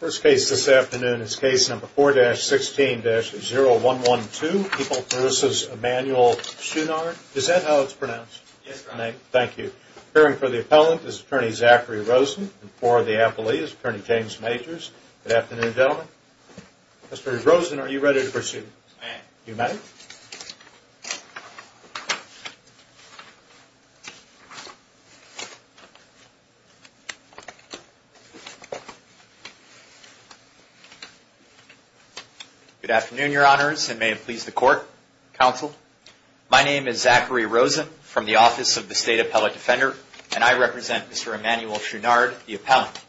First case this afternoon is case number 4-16-0112, People v. Emmanuel Choundard. Is that how it's pronounced? Yes, Your Honor. Thank you. Appearing for the appellant is Attorney Zachary Rosen and for the appellee is Attorney James Majors. Good afternoon, gentlemen. Mr. Rosen, are you ready to pursue? I am. You may. Good afternoon, Your Honors, and may it please the Court, Counsel. My name is Zachary Rosen from the Office of the State Appellate Defender, and I represent Mr. Emmanuel Choundard, the appellant.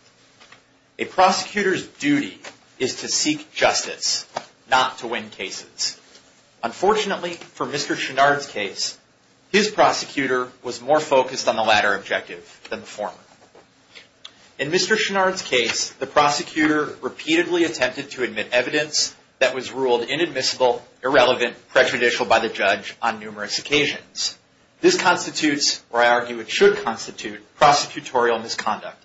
A prosecutor's duty is to seek justice, not to win cases. Unfortunately, for Mr. Choundard's case, his prosecutor was more focused on the latter objective than the former. In Mr. Choundard's case, the prosecutor repeatedly attempted to admit evidence that was ruled inadmissible, irrelevant, and prejudicial by the judge on numerous occasions. This constitutes, or I argue it should constitute, prosecutorial misconduct,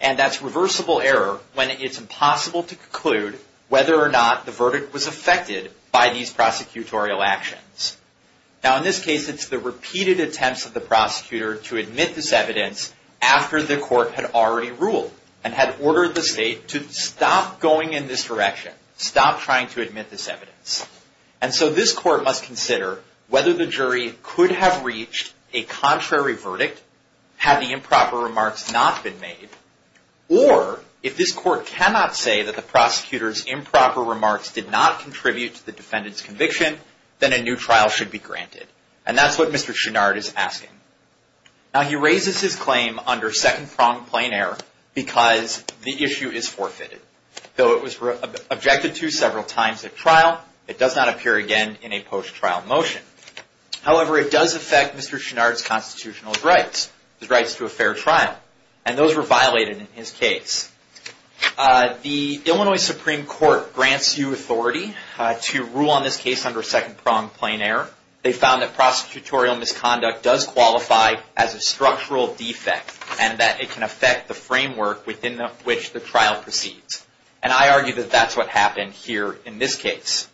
and that's reversible error when it's impossible to conclude whether or not the verdict was affected by these prosecutorial actions. Now, in this case, it's the repeated attempts of the prosecutor to admit this evidence after the court had already ruled and had ordered the state to stop going in this direction, stop trying to admit this evidence. And so this court must consider whether the jury could have reached a contrary verdict had the improper remarks not been made, or if this court cannot say that the prosecutor's improper remarks did not contribute to the defendant's conviction, then a new trial should be granted. And that's what Mr. Choundard is asking. Now, he raises his claim under second-pronged plain error because the issue is forfeited. Though it was objected to several times at trial, it does not appear again in a post-trial motion. However, it does affect Mr. Choundard's constitutional rights, his rights to a fair trial, and those were violated in his case. The Illinois Supreme Court grants you authority to rule on this case under second-pronged plain error. They found that prosecutorial misconduct does qualify as a structural defect, and that it can affect the framework within which the trial proceeds. And I argue that that's what happened here in this case.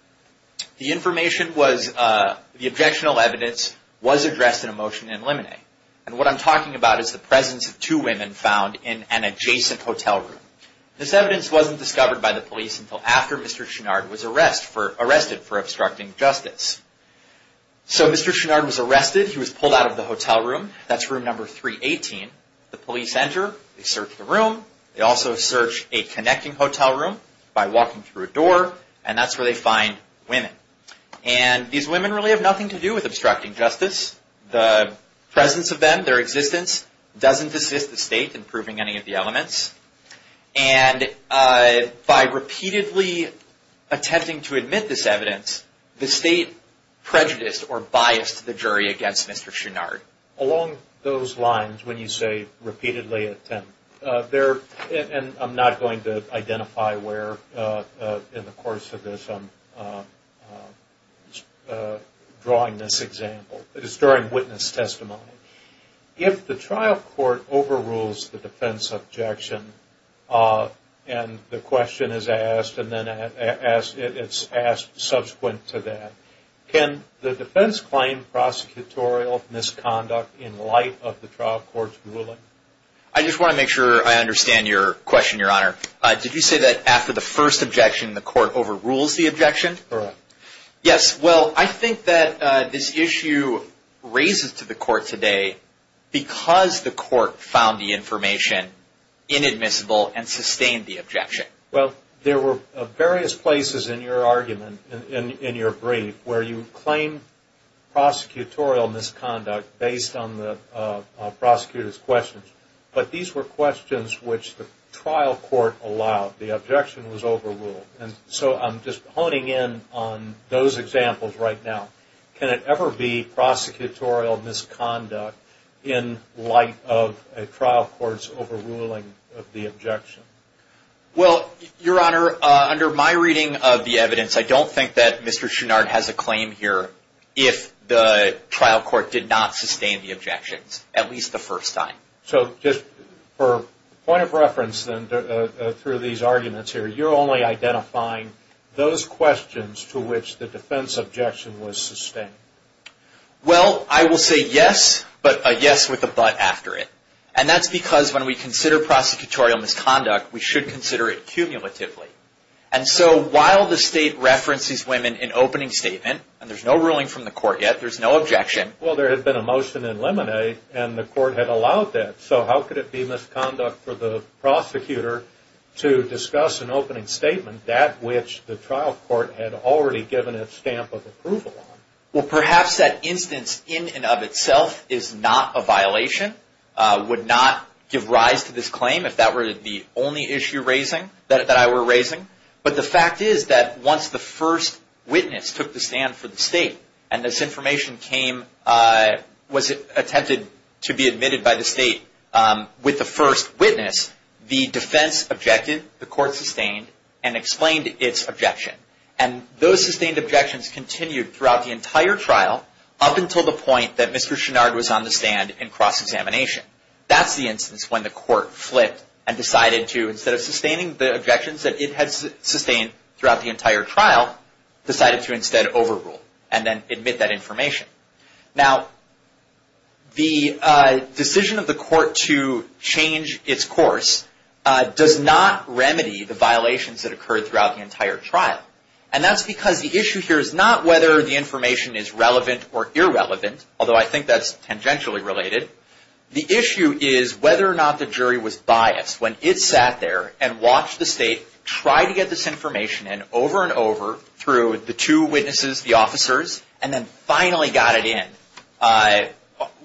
The information was, the objectionable evidence was addressed in a motion in limine. And what I'm talking about is the presence of two women found in an adjacent hotel room. This evidence wasn't discovered by the police until after Mr. Choundard was arrested for obstructing justice. So Mr. Choundard was arrested. He was pulled out of the hotel room. That's room number 318. The police enter. They search the room. They also search a connecting hotel room by walking through a door, and that's where they find women. And these women really have nothing to do with obstructing justice. The presence of them, their existence, doesn't assist the state in proving any of the elements. And by repeatedly attempting to admit this evidence, the state prejudiced or biased the jury against Mr. Choundard. Along those lines, when you say repeatedly attempt, and I'm not going to identify where in the course of this I'm drawing this example. It's during witness testimony. If the trial court overrules the defense objection and the question is asked and then it's asked subsequent to that, can the defense claim prosecutorial misconduct in light of the trial court's ruling? I just want to make sure I understand your question, Your Honor. Did you say that after the first objection, the court overrules the objection? Correct. Yes. Well, I think that this issue raises to the court today because the court found the information inadmissible and sustained the objection. Well, there were various places in your argument, in your brief, where you claim prosecutorial misconduct based on the prosecutor's questions. But these were questions which the trial court allowed. The objection was overruled. And so I'm just honing in on those examples right now. Can it ever be prosecutorial misconduct in light of a trial court's overruling of the objection? Well, Your Honor, under my reading of the evidence, I don't think that Mr. Chouinard has a claim here if the trial court did not sustain the objections, at least the first time. So just for point of reference through these arguments here, you're only identifying those questions to which the defense objection was sustained. Well, I will say yes, but a yes with a but after it. And that's because when we consider prosecutorial misconduct, we should consider it cumulatively. And so while the State references women in opening statement, and there's no ruling from the court yet, there's no objection. Well, there had been a motion in Lemonade, and the court had allowed that. So how could it be misconduct for the prosecutor to discuss an opening statement that which the trial court had already given a stamp of approval on? Well, perhaps that instance in and of itself is not a violation, would not give rise to this claim if that were the only issue that I were raising. But the fact is that once the first witness took the stand for the State, and this information was attempted to be admitted by the State with the first witness, the defense objected, the court sustained, and explained its objection. And those sustained objections continued throughout the entire trial up until the point that Mr. Chouinard was on the stand in cross-examination. That's the instance when the court flipped and decided to, instead of sustaining the objections that it had sustained throughout the entire trial, decided to instead overrule and then admit that information. Now, the decision of the court to change its course does not remedy the violations that occurred throughout the entire trial. And that's because the issue here is not whether the information is relevant or irrelevant, although I think that's tangentially related. The issue is whether or not the jury was biased when it sat there and watched the State try to get this information in over and over through the two witnesses, the officers, and then finally got it in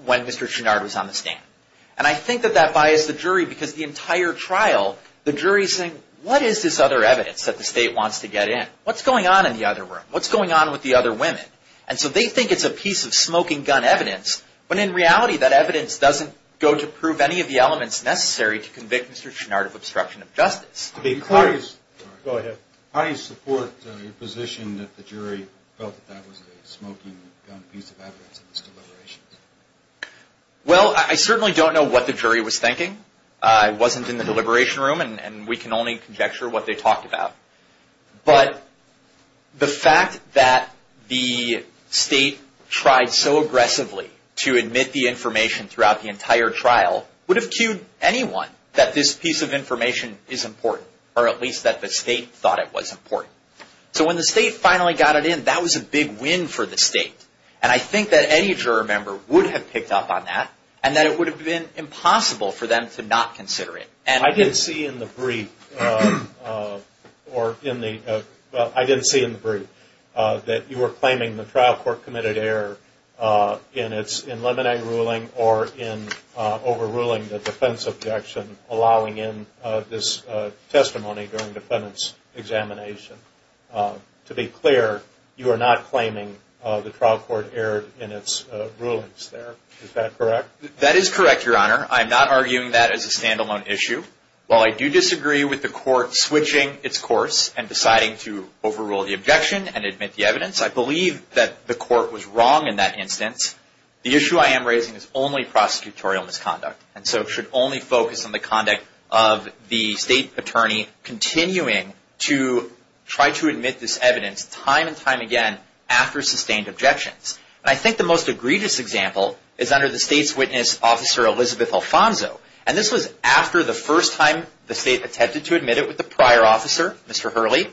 when Mr. Chouinard was on the stand. And I think that that biased the jury because the entire trial, the jury is saying, what is this other evidence that the State wants to get in? What's going on in the other room? What's going on with the other women? And so they think it's a piece of smoking gun evidence, when in reality that evidence doesn't go to prove any of the elements necessary to convict Mr. Chouinard of obstruction of justice. How do you support your position that the jury felt that that was a smoking gun piece of evidence in this deliberation? Well, I certainly don't know what the jury was thinking. I wasn't in the deliberation room, and we can only conjecture what they talked about. But the fact that the State tried so aggressively to admit the information throughout the entire trial would have cued anyone that this piece of information is important, or at least that the State thought it was important. So when the State finally got it in, that was a big win for the State. And I think that any juror member would have picked up on that and that it would have been impossible for them to not consider it. I didn't see in the brief that you were claiming the trial court committed error in its eliminating ruling or in overruling the defense objection, allowing in this testimony during defendant's examination. To be clear, you are not claiming the trial court erred in its rulings there. Is that correct? That is correct, Your Honor. I am not arguing that as a standalone issue. While I do disagree with the court switching its course and deciding to overrule the objection and admit the evidence, I believe that the court was wrong in that instance. The issue I am raising is only prosecutorial misconduct and so should only focus on the conduct of the State attorney continuing to try to admit this evidence time and time again after sustained objections. And I think the most egregious example is under the State's witness, Officer Elizabeth Alfonso. And this was after the first time the State attempted to admit it with the prior officer, Mr. Hurley.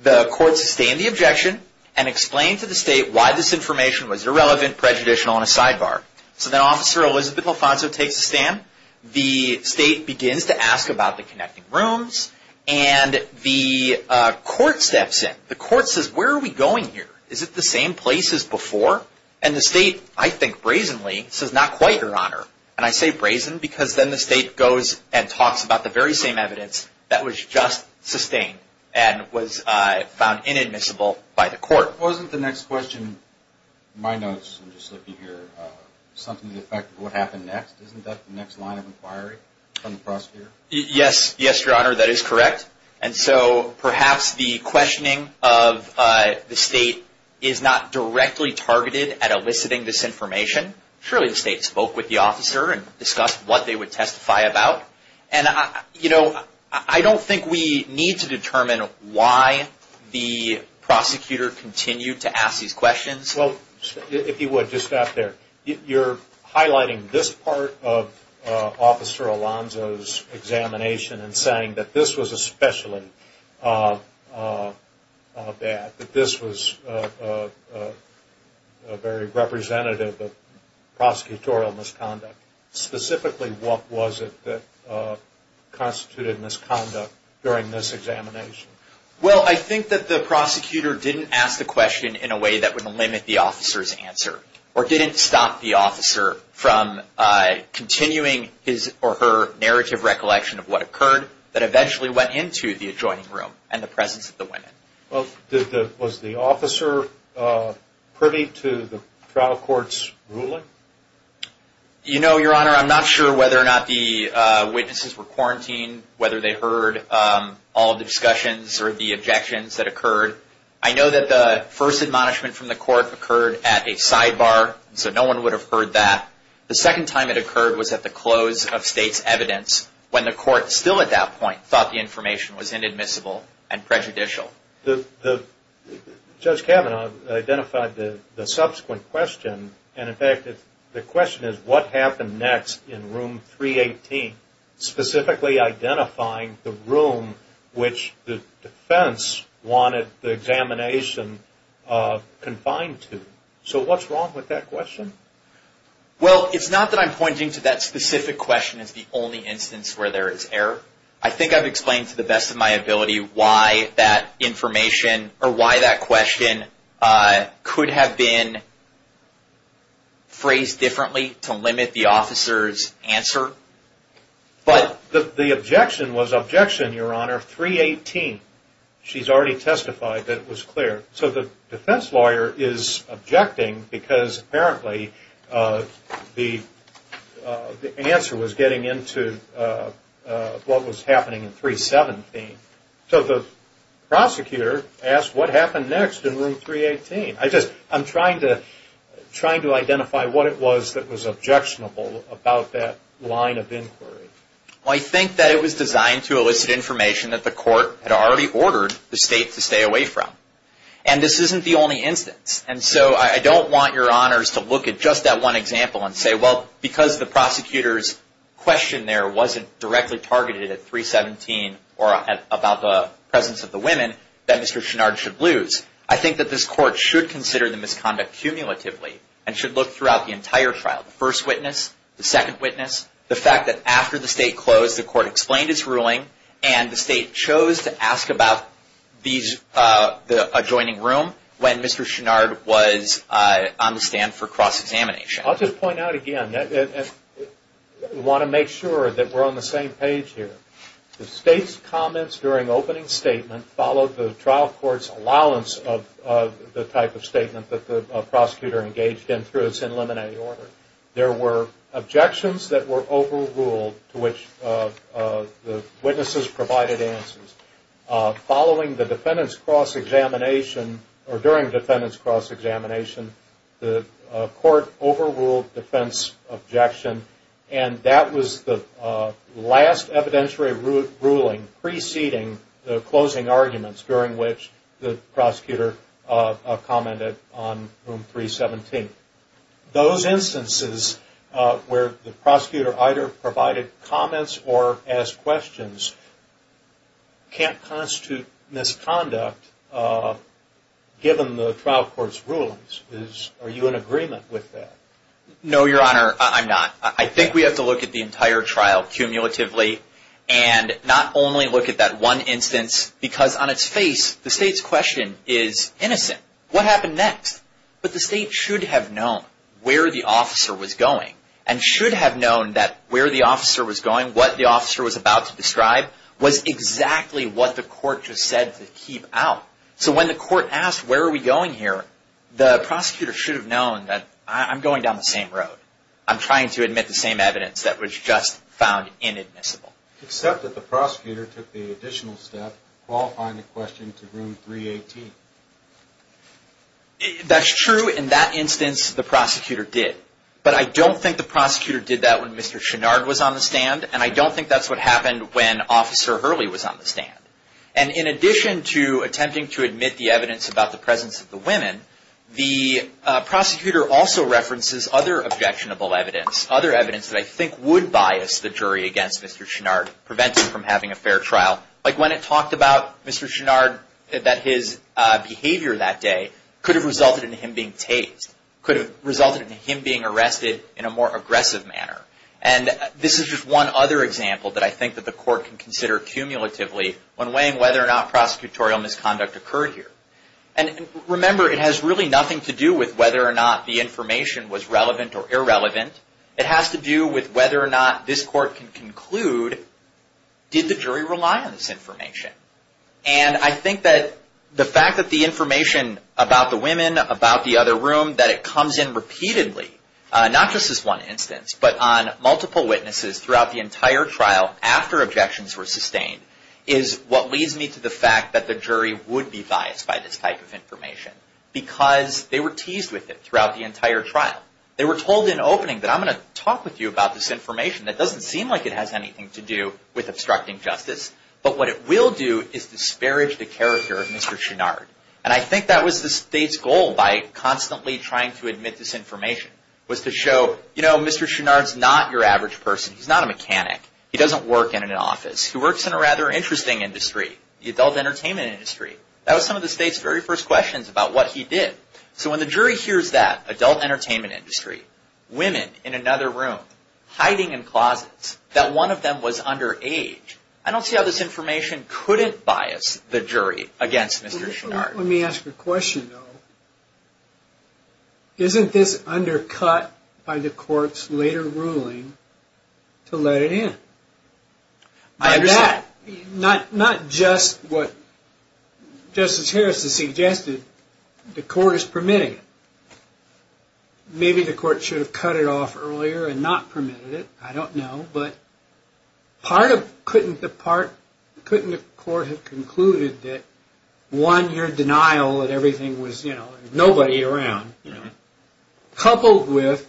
The court sustained the objection and explained to the State why this information was irrelevant, prejudicial, and a sidebar. So then Officer Elizabeth Alfonso takes a stand. The State begins to ask about the connecting rooms and the court steps in. The court says, where are we going here? Is it the same place as before? And the State, I think brazenly, says, not quite, Your Honor. And I say brazen because then the State goes and talks about the very same evidence that was just sustained and was found inadmissible by the court. Wasn't the next question, my notes, something to the effect of what happened next? Isn't that the next line of inquiry from the prosecutor? Yes, Your Honor. That is correct. And so perhaps the questioning of the State is not directly targeted at eliciting this information. Surely the State spoke with the officer and discussed what they would testify about. And, you know, I don't think we need to determine why the prosecutor continued to ask these questions. Well, if you would, just stop there. You're highlighting this part of Officer Alonzo's examination and saying that this was especially bad, that this was very representative of prosecutorial misconduct. Specifically, what was it that constituted misconduct during this examination? Well, I think that the prosecutor didn't ask the question in a way that would limit the officer's answer or didn't stop the officer from continuing his or her narrative recollection of what occurred that eventually went into the adjoining room and the presence of the women. Was the officer privy to the trial court's ruling? You know, Your Honor, I'm not sure whether or not the witnesses were quarantined, whether they heard all the discussions or the objections that occurred. I know that the first admonishment from the court occurred at a sidebar, so no one would have heard that. The second time it occurred was at the close of State's evidence, when the court still at that point thought the information was inadmissible and prejudicial. Judge Kavanaugh identified the subsequent question. And, in fact, the question is what happened next in Room 318, specifically identifying the room which the defense wanted the examination confined to. So what's wrong with that question? Well, it's not that I'm pointing to that specific question as the only instance where there is error. I think I've explained to the best of my ability why that question could have been phrased differently to limit the officer's answer. The objection was objection, Your Honor, 318. She's already testified that it was clear. So the defense lawyer is objecting because apparently the answer was getting into what was happening in 317. So the prosecutor asked what happened next in Room 318. I'm trying to identify what it was that was objectionable about that line of inquiry. I think that it was designed to elicit information that the court had already ordered the State to stay away from. And this isn't the only instance. And so I don't want Your Honors to look at just that one example and say, well, because the prosecutor's question there wasn't directly targeted at 317 or about the presence of the women, that Mr. Chouinard should lose. I think that this court should consider the misconduct cumulatively and should look throughout the entire trial. The first witness, the second witness, the fact that after the State closed, the court explained its ruling and the State chose to ask about the adjoining room when Mr. Chouinard was on the stand for cross-examination. I'll just point out again, we want to make sure that we're on the same page here. The State's comments during opening statement followed the trial court's allowance of the type of statement that the prosecutor engaged in through its eliminating order. There were objections that were overruled to which the witnesses provided answers. Following the defendant's cross-examination, or during the defendant's cross-examination, the court overruled defense objection. That was the last evidentiary ruling preceding the closing arguments during which the prosecutor commented on Room 317. Those instances where the prosecutor either provided comments or asked questions can't constitute misconduct given the trial court's rulings. Are you in agreement with that? No, Your Honor, I'm not. I think we have to look at the entire trial cumulatively and not only look at that one instance because on its face, the State's question is innocent. What happened next? But the State should have known where the officer was going and should have known that where the officer was going, what the officer was about to describe, was exactly what the court just said to keep out. So when the court asked, where are we going here, the prosecutor should have known that I'm going down the same road. I'm trying to admit the same evidence that was just found inadmissible. Except that the prosecutor took the additional step qualifying the question to Room 318. That's true. In that instance, the prosecutor did. But I don't think the prosecutor did that when Mr. Chouinard was on the stand, and I don't think that's what happened when Officer Hurley was on the stand. And in addition to attempting to admit the evidence about the presence of the women, the prosecutor also references other objectionable evidence, other evidence that I think would bias the jury against Mr. Chouinard, prevent it from having a fair trial. Like when it talked about Mr. Chouinard, that his behavior that day could have resulted in him being tased, could have resulted in him being arrested in a more aggressive manner. And this is just one other example that I think that the court can consider cumulatively when weighing whether or not prosecutorial misconduct occurred here. And remember, it has really nothing to do with whether or not the information was relevant or irrelevant. It has to do with whether or not this court can conclude, did the jury rely on this information? And I think that the fact that the information about the women, about the other room, that it comes in repeatedly, not just this one instance, but on multiple witnesses throughout the entire trial after objections were sustained, is what leads me to the fact that the jury would be biased by this type of information because they were teased with it throughout the entire trial. They were told in opening that I'm going to talk with you about this information that doesn't seem like it has anything to do with obstructing justice, but what it will do is disparage the character of Mr. Chouinard. And I think that was the state's goal by constantly trying to admit this information, was to show, you know, Mr. Chouinard's not your average person. He's not a mechanic. He doesn't work in an office. He works in a rather interesting industry, the adult entertainment industry. That was some of the state's very first questions about what he did. So when the jury hears that, adult entertainment industry, women in another room, hiding in closets, that one of them was underage, I don't see how this information couldn't bias the jury against Mr. Chouinard. Let me ask you a question, though. Isn't this undercut by the court's later ruling to let it in? I understand. Not just what Justice Harris has suggested. The court is permitting it. Maybe the court should have cut it off earlier and not permitted it. I don't know. But part of couldn't the court have concluded that, one, your denial that everything was, you know, nobody around, coupled with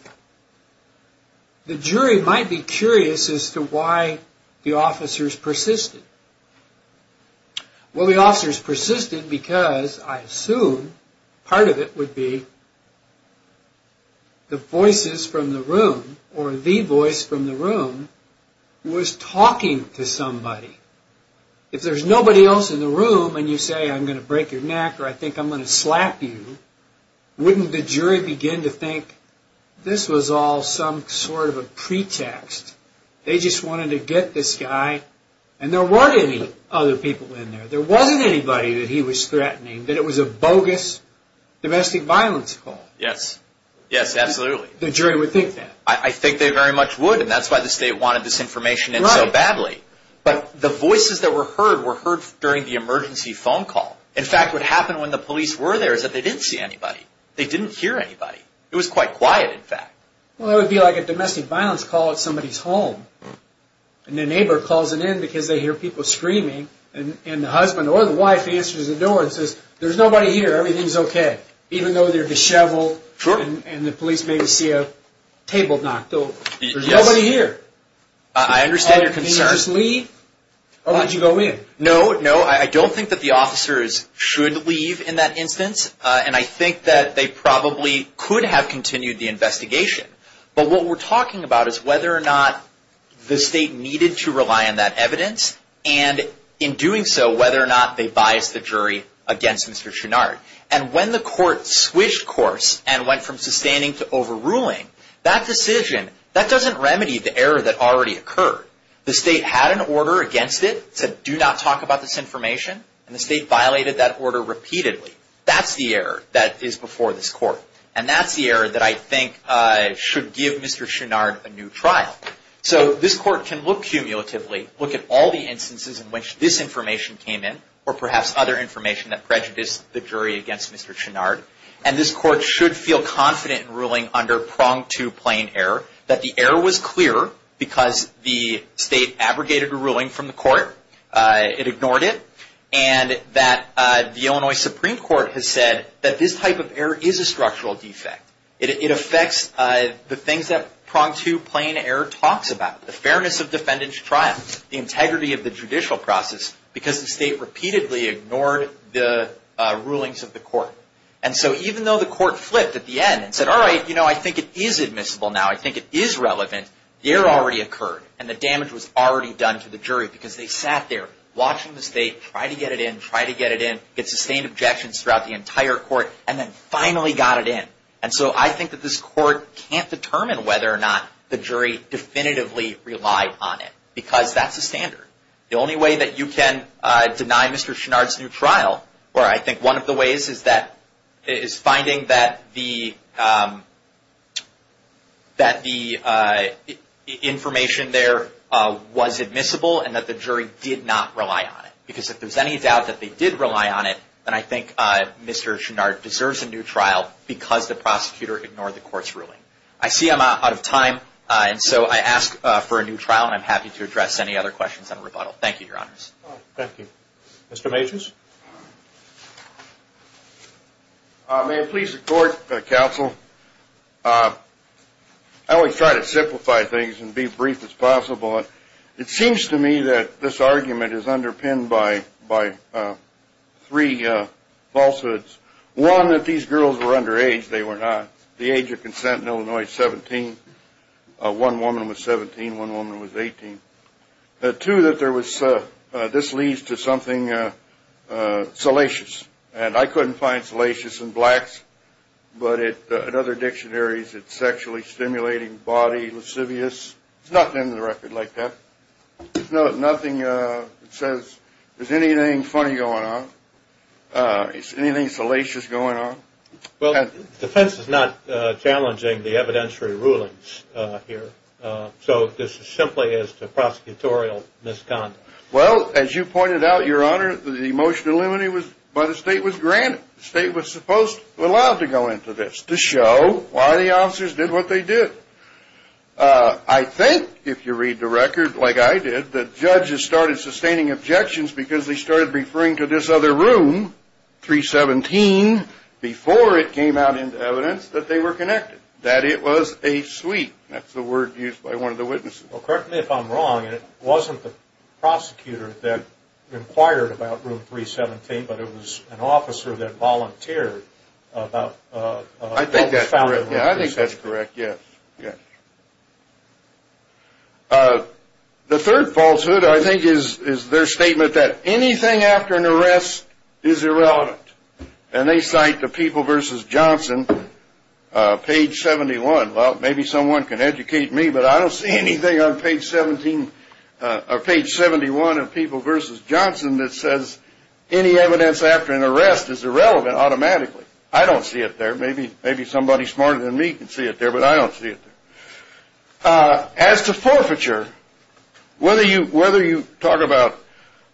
the jury might be curious as to why the officers persisted. Well, the officers persisted because I assume part of it would be the voices from the room or the voice from the room was talking to somebody. If there's nobody else in the room and you say, I'm going to break your neck or I think I'm going to slap you, wouldn't the jury begin to think this was all some sort of a pretext? They just wanted to get this guy, and there weren't any other people in there. There wasn't anybody that he was threatening, that it was a bogus domestic violence call. Yes. Yes, absolutely. The jury would think that. I think they very much would, and that's why the state wanted this information in so badly. But the voices that were heard were heard during the emergency phone call. In fact, what happened when the police were there is that they didn't see anybody. They didn't hear anybody. It was quite quiet, in fact. Well, it would be like a domestic violence call at somebody's home, and the neighbor calls it in because they hear people screaming, and the husband or the wife answers the door and says, there's nobody here, everything's okay, even though they're disheveled and the police may see a table knocked over. There's nobody here. I understand your concern. Did you just leave, or would you go in? No, no, I don't think that the officers should leave in that instance, and I think that they probably could have continued the investigation. But what we're talking about is whether or not the state needed to rely on that evidence, and in doing so, whether or not they biased the jury against Mr. Chouinard. And when the court switched course and went from sustaining to overruling, that decision, that doesn't remedy the error that already occurred. The state had an order against it that said do not talk about this information, and the state violated that order repeatedly. That's the error that is before this court, and that's the error that I think should give Mr. Chouinard a new trial. So this court can look cumulatively, look at all the instances in which this information came in, or perhaps other information that prejudiced the jury against Mr. Chouinard, and this court should feel confident in ruling under pronged to plain error that the error was clear because the state abrogated a ruling from the court, it ignored it, and that the Illinois Supreme Court has said that this type of error is a structural defect. It affects the things that pronged to plain error talks about, the fairness of defendant's trial, the integrity of the judicial process, because the state repeatedly ignored the rulings of the court. And so even though the court flipped at the end and said, all right, you know, I think it is admissible now, I think it is relevant, the error already occurred, and the damage was already done to the jury because they sat there watching the state try to get it in, try to get it in, get sustained objections throughout the entire court, and then finally got it in. And so I think that this court can't determine whether or not the jury definitively relied on it because that's the standard. The only way that you can deny Mr. Chouinard's new trial, or I think one of the ways, is finding that the information there was admissible and that the jury did not rely on it. Because if there's any doubt that they did rely on it, then I think Mr. Chouinard deserves a new trial because the prosecutor ignored the court's ruling. I see I'm out of time, and so I ask for a new trial, and I'm happy to address any other questions on rebuttal. Thank you, Your Honors. Thank you. Mr. Majors? May it please the court, counsel, I always try to simplify things and be brief as possible. It seems to me that this argument is underpinned by three falsehoods. One, that these girls were underage. They were not. The age of consent in Illinois is 17. One woman was 17. One woman was 18. Two, that this leads to something salacious, and I couldn't find salacious in blacks, but in other dictionaries it's sexually stimulating body, lascivious. There's nothing in the record like that. There's nothing that says there's anything funny going on, anything salacious going on. Well, defense is not challenging the evidentiary rulings here, so this is simply as to prosecutorial misconduct. Well, as you pointed out, Your Honor, the motion to eliminate was granted. The state was supposed to allow it to go into this to show why the officers did what they did. I think, if you read the record like I did, that judges started sustaining objections because they started referring to this other room, 317, before it came out into evidence that they were connected, that it was a suite. That's the word used by one of the witnesses. Well, correct me if I'm wrong, and it wasn't the prosecutor that inquired about room 317, but it was an officer that volunteered. I think that's correct, yes. The third falsehood, I think, is their statement that anything after an arrest is irrelevant, and they cite the People v. Johnson, page 71. Well, maybe someone can educate me, but I don't see anything on page 71 of People v. Johnson that says any evidence after an arrest is irrelevant automatically. I don't see it there. Maybe somebody smarter than me can see it there, but I don't see it there. As to forfeiture, whether you talk about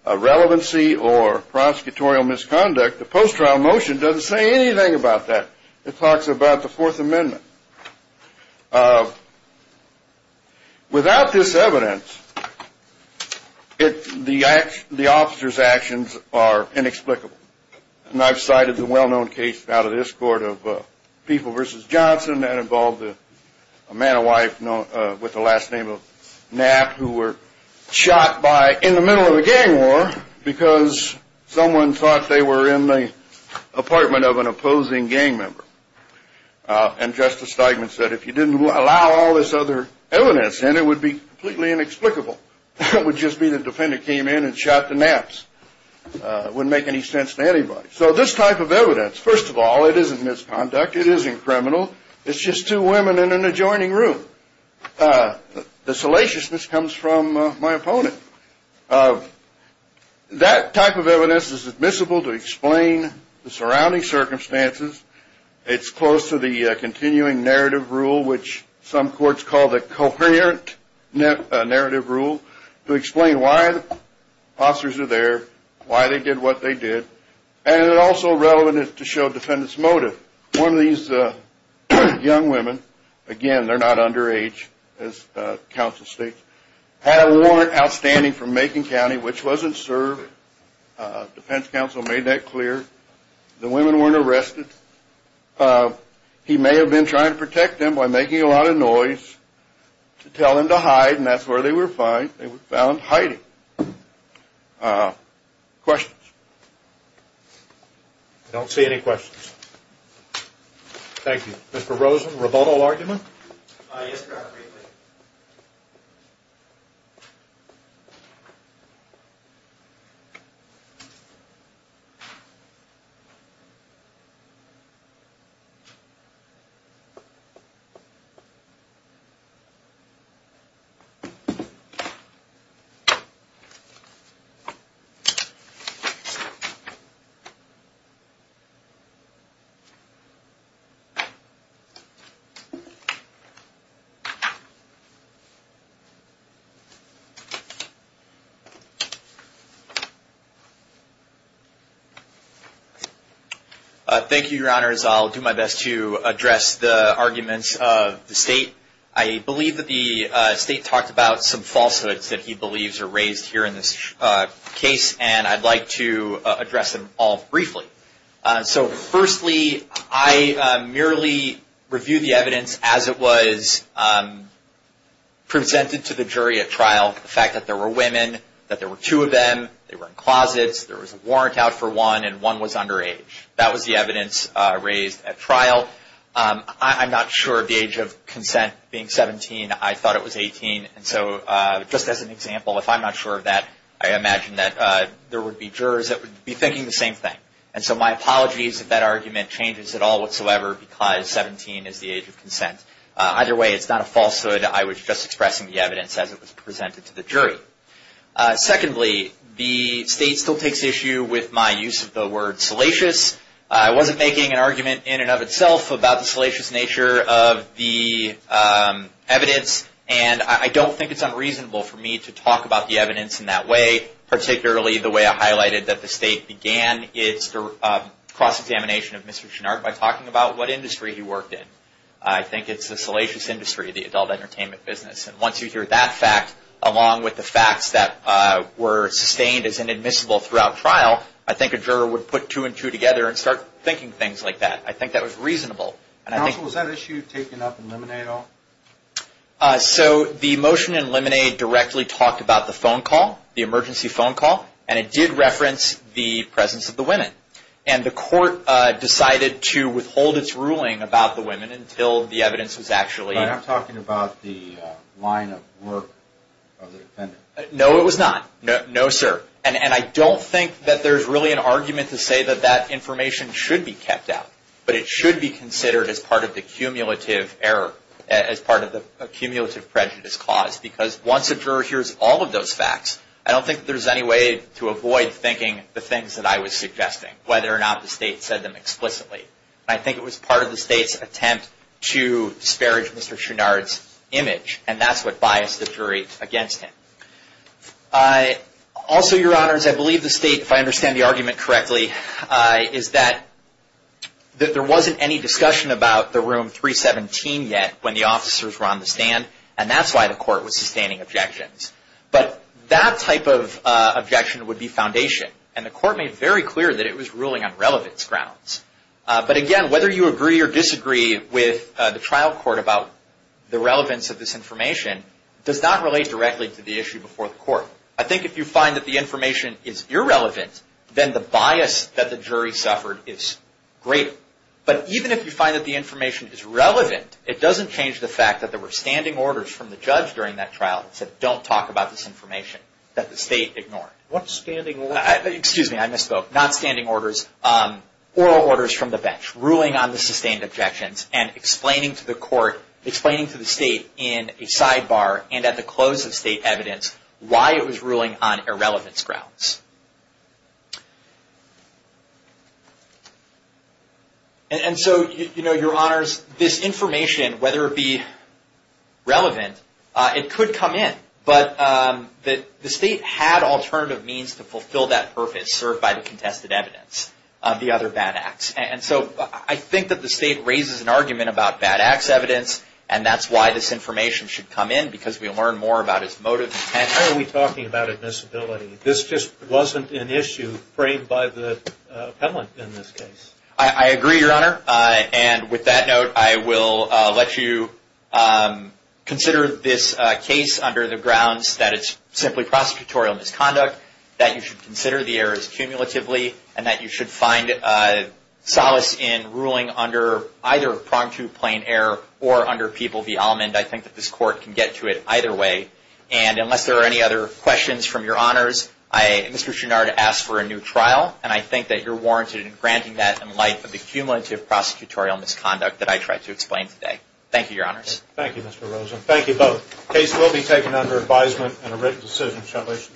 relevancy or prosecutorial misconduct, the post-trial motion doesn't say anything about that. It talks about the Fourth Amendment. Without this evidence, the officers' actions are inexplicable, and I've cited the well-known case out of this court of People v. Johnson that involved a man and wife with the last name of Knapp who were shot in the middle of a gang war because someone thought they were in the apartment of an opposing gang member. And Justice Steigman said if you didn't allow all this other evidence in, it would be completely inexplicable. It would just be the defendant came in and shot the Knapps. It wouldn't make any sense to anybody. So this type of evidence, first of all, it isn't misconduct. It isn't criminal. It's just two women in an adjoining room. The salaciousness comes from my opponent. That type of evidence is admissible to explain the surrounding circumstances. It's close to the continuing narrative rule, which some courts call the coherent narrative rule, to explain why the officers are there, why they did what they did. And it's also relevant to show defendants' motive. One of these young women, again, they're not underage as counsel states, had a warrant outstanding from Macon County, which wasn't served. Defense counsel made that clear. The women weren't arrested. He may have been trying to protect them by making a lot of noise to tell them to hide, and that's where they were found hiding. Questions? I don't see any questions. Thank you. Mr. Rosen, rebuttal argument? Yes, Your Honor. Thank you, Your Honors. I'll do my best to address the arguments of the State. I believe that the State talked about some falsehoods that he believes are raised here in this case, and I'd like to address them all briefly. So, firstly, I merely reviewed the evidence as it was presented to the jury at trial, the fact that there were women, that there were two of them, they were in closets, there was a warrant out for one, and one was underage. That was the evidence raised at trial. I'm not sure of the age of consent being 17. I thought it was 18. And so, just as an example, if I'm not sure of that, I imagine that there would be jurors that would be thinking the same thing. And so my apologies if that argument changes at all whatsoever because 17 is the age of consent. Either way, it's not a falsehood. I was just expressing the evidence as it was presented to the jury. Secondly, the State still takes issue with my use of the word salacious. I wasn't making an argument in and of itself about the salacious nature of the evidence, and I don't think it's unreasonable for me to talk about the evidence in that way, particularly the way I highlighted that the State began its cross-examination of Mr. Chouinard by talking about what industry he worked in. I think it's the salacious industry, the adult entertainment business. And once you hear that fact, along with the facts that were sustained as inadmissible throughout trial, I think a juror would put two and two together and start thinking things like that. I think that was reasonable. Counsel, was that issue taken up in Lemonade at all? So the motion in Lemonade directly talked about the phone call, the emergency phone call, and it did reference the presence of the women. And the court decided to withhold its ruling about the women until the evidence was actually I'm talking about the line of work of the defendant. No, it was not. No, sir. And I don't think that there's really an argument to say that that information should be kept out, but it should be considered as part of the cumulative error, as part of the cumulative prejudice cause, because once a juror hears all of those facts, I don't think there's any way to avoid thinking the things that I was suggesting, whether or not the State said them explicitly. I think it was part of the State's attempt to disparage Mr. Chouinard's image, and that's what biased the jury against him. Also, Your Honors, I believe the State, if I understand the argument correctly, is that there wasn't any discussion about the room 317 yet when the officers were on the stand, and that's why the court was sustaining objections. But that type of objection would be foundation, and the court made very clear that it was ruling on relevance grounds. But, again, whether you agree or disagree with the trial court about the relevance of this information does not relate directly to the issue before the court. I think if you find that the information is irrelevant, then the bias that the jury suffered is greater. But even if you find that the information is relevant, it doesn't change the fact that there were standing orders from the judge during that trial that said don't talk about this information that the State ignored. What standing orders? Excuse me, I misspoke. Not standing orders, oral orders from the bench, ruling on the sustained objections and explaining to the court, explaining to the State in a sidebar and at the close of State evidence why it was ruling on irrelevance grounds. And so, you know, Your Honors, this information, whether it be relevant, it could come in. But the State had alternative means to fulfill that purpose served by the contested evidence, the other bad acts. And so I think that the State raises an argument about bad acts evidence, and that's why this information should come in, because we'll learn more about its motive. How are we talking about admissibility? This just wasn't an issue framed by the appellant in this case. I agree, Your Honor. And with that note, I will let you consider this case under the grounds that it's simply prosecutorial misconduct, that you should consider the errors cumulatively, and that you should find solace in ruling under either prong to plain error or under people v. Almond. I think that this court can get to it either way. And unless there are any other questions from Your Honors, Mr. Chouinard asked for a new trial, and I think that you're warranted in granting that in light of the cumulative prosecutorial misconduct that I tried to explain today. Thank you, Your Honors. Thank you, Mr. Rosen. Thank you both. The case will be taken under advisement and a written decision. Congratulations.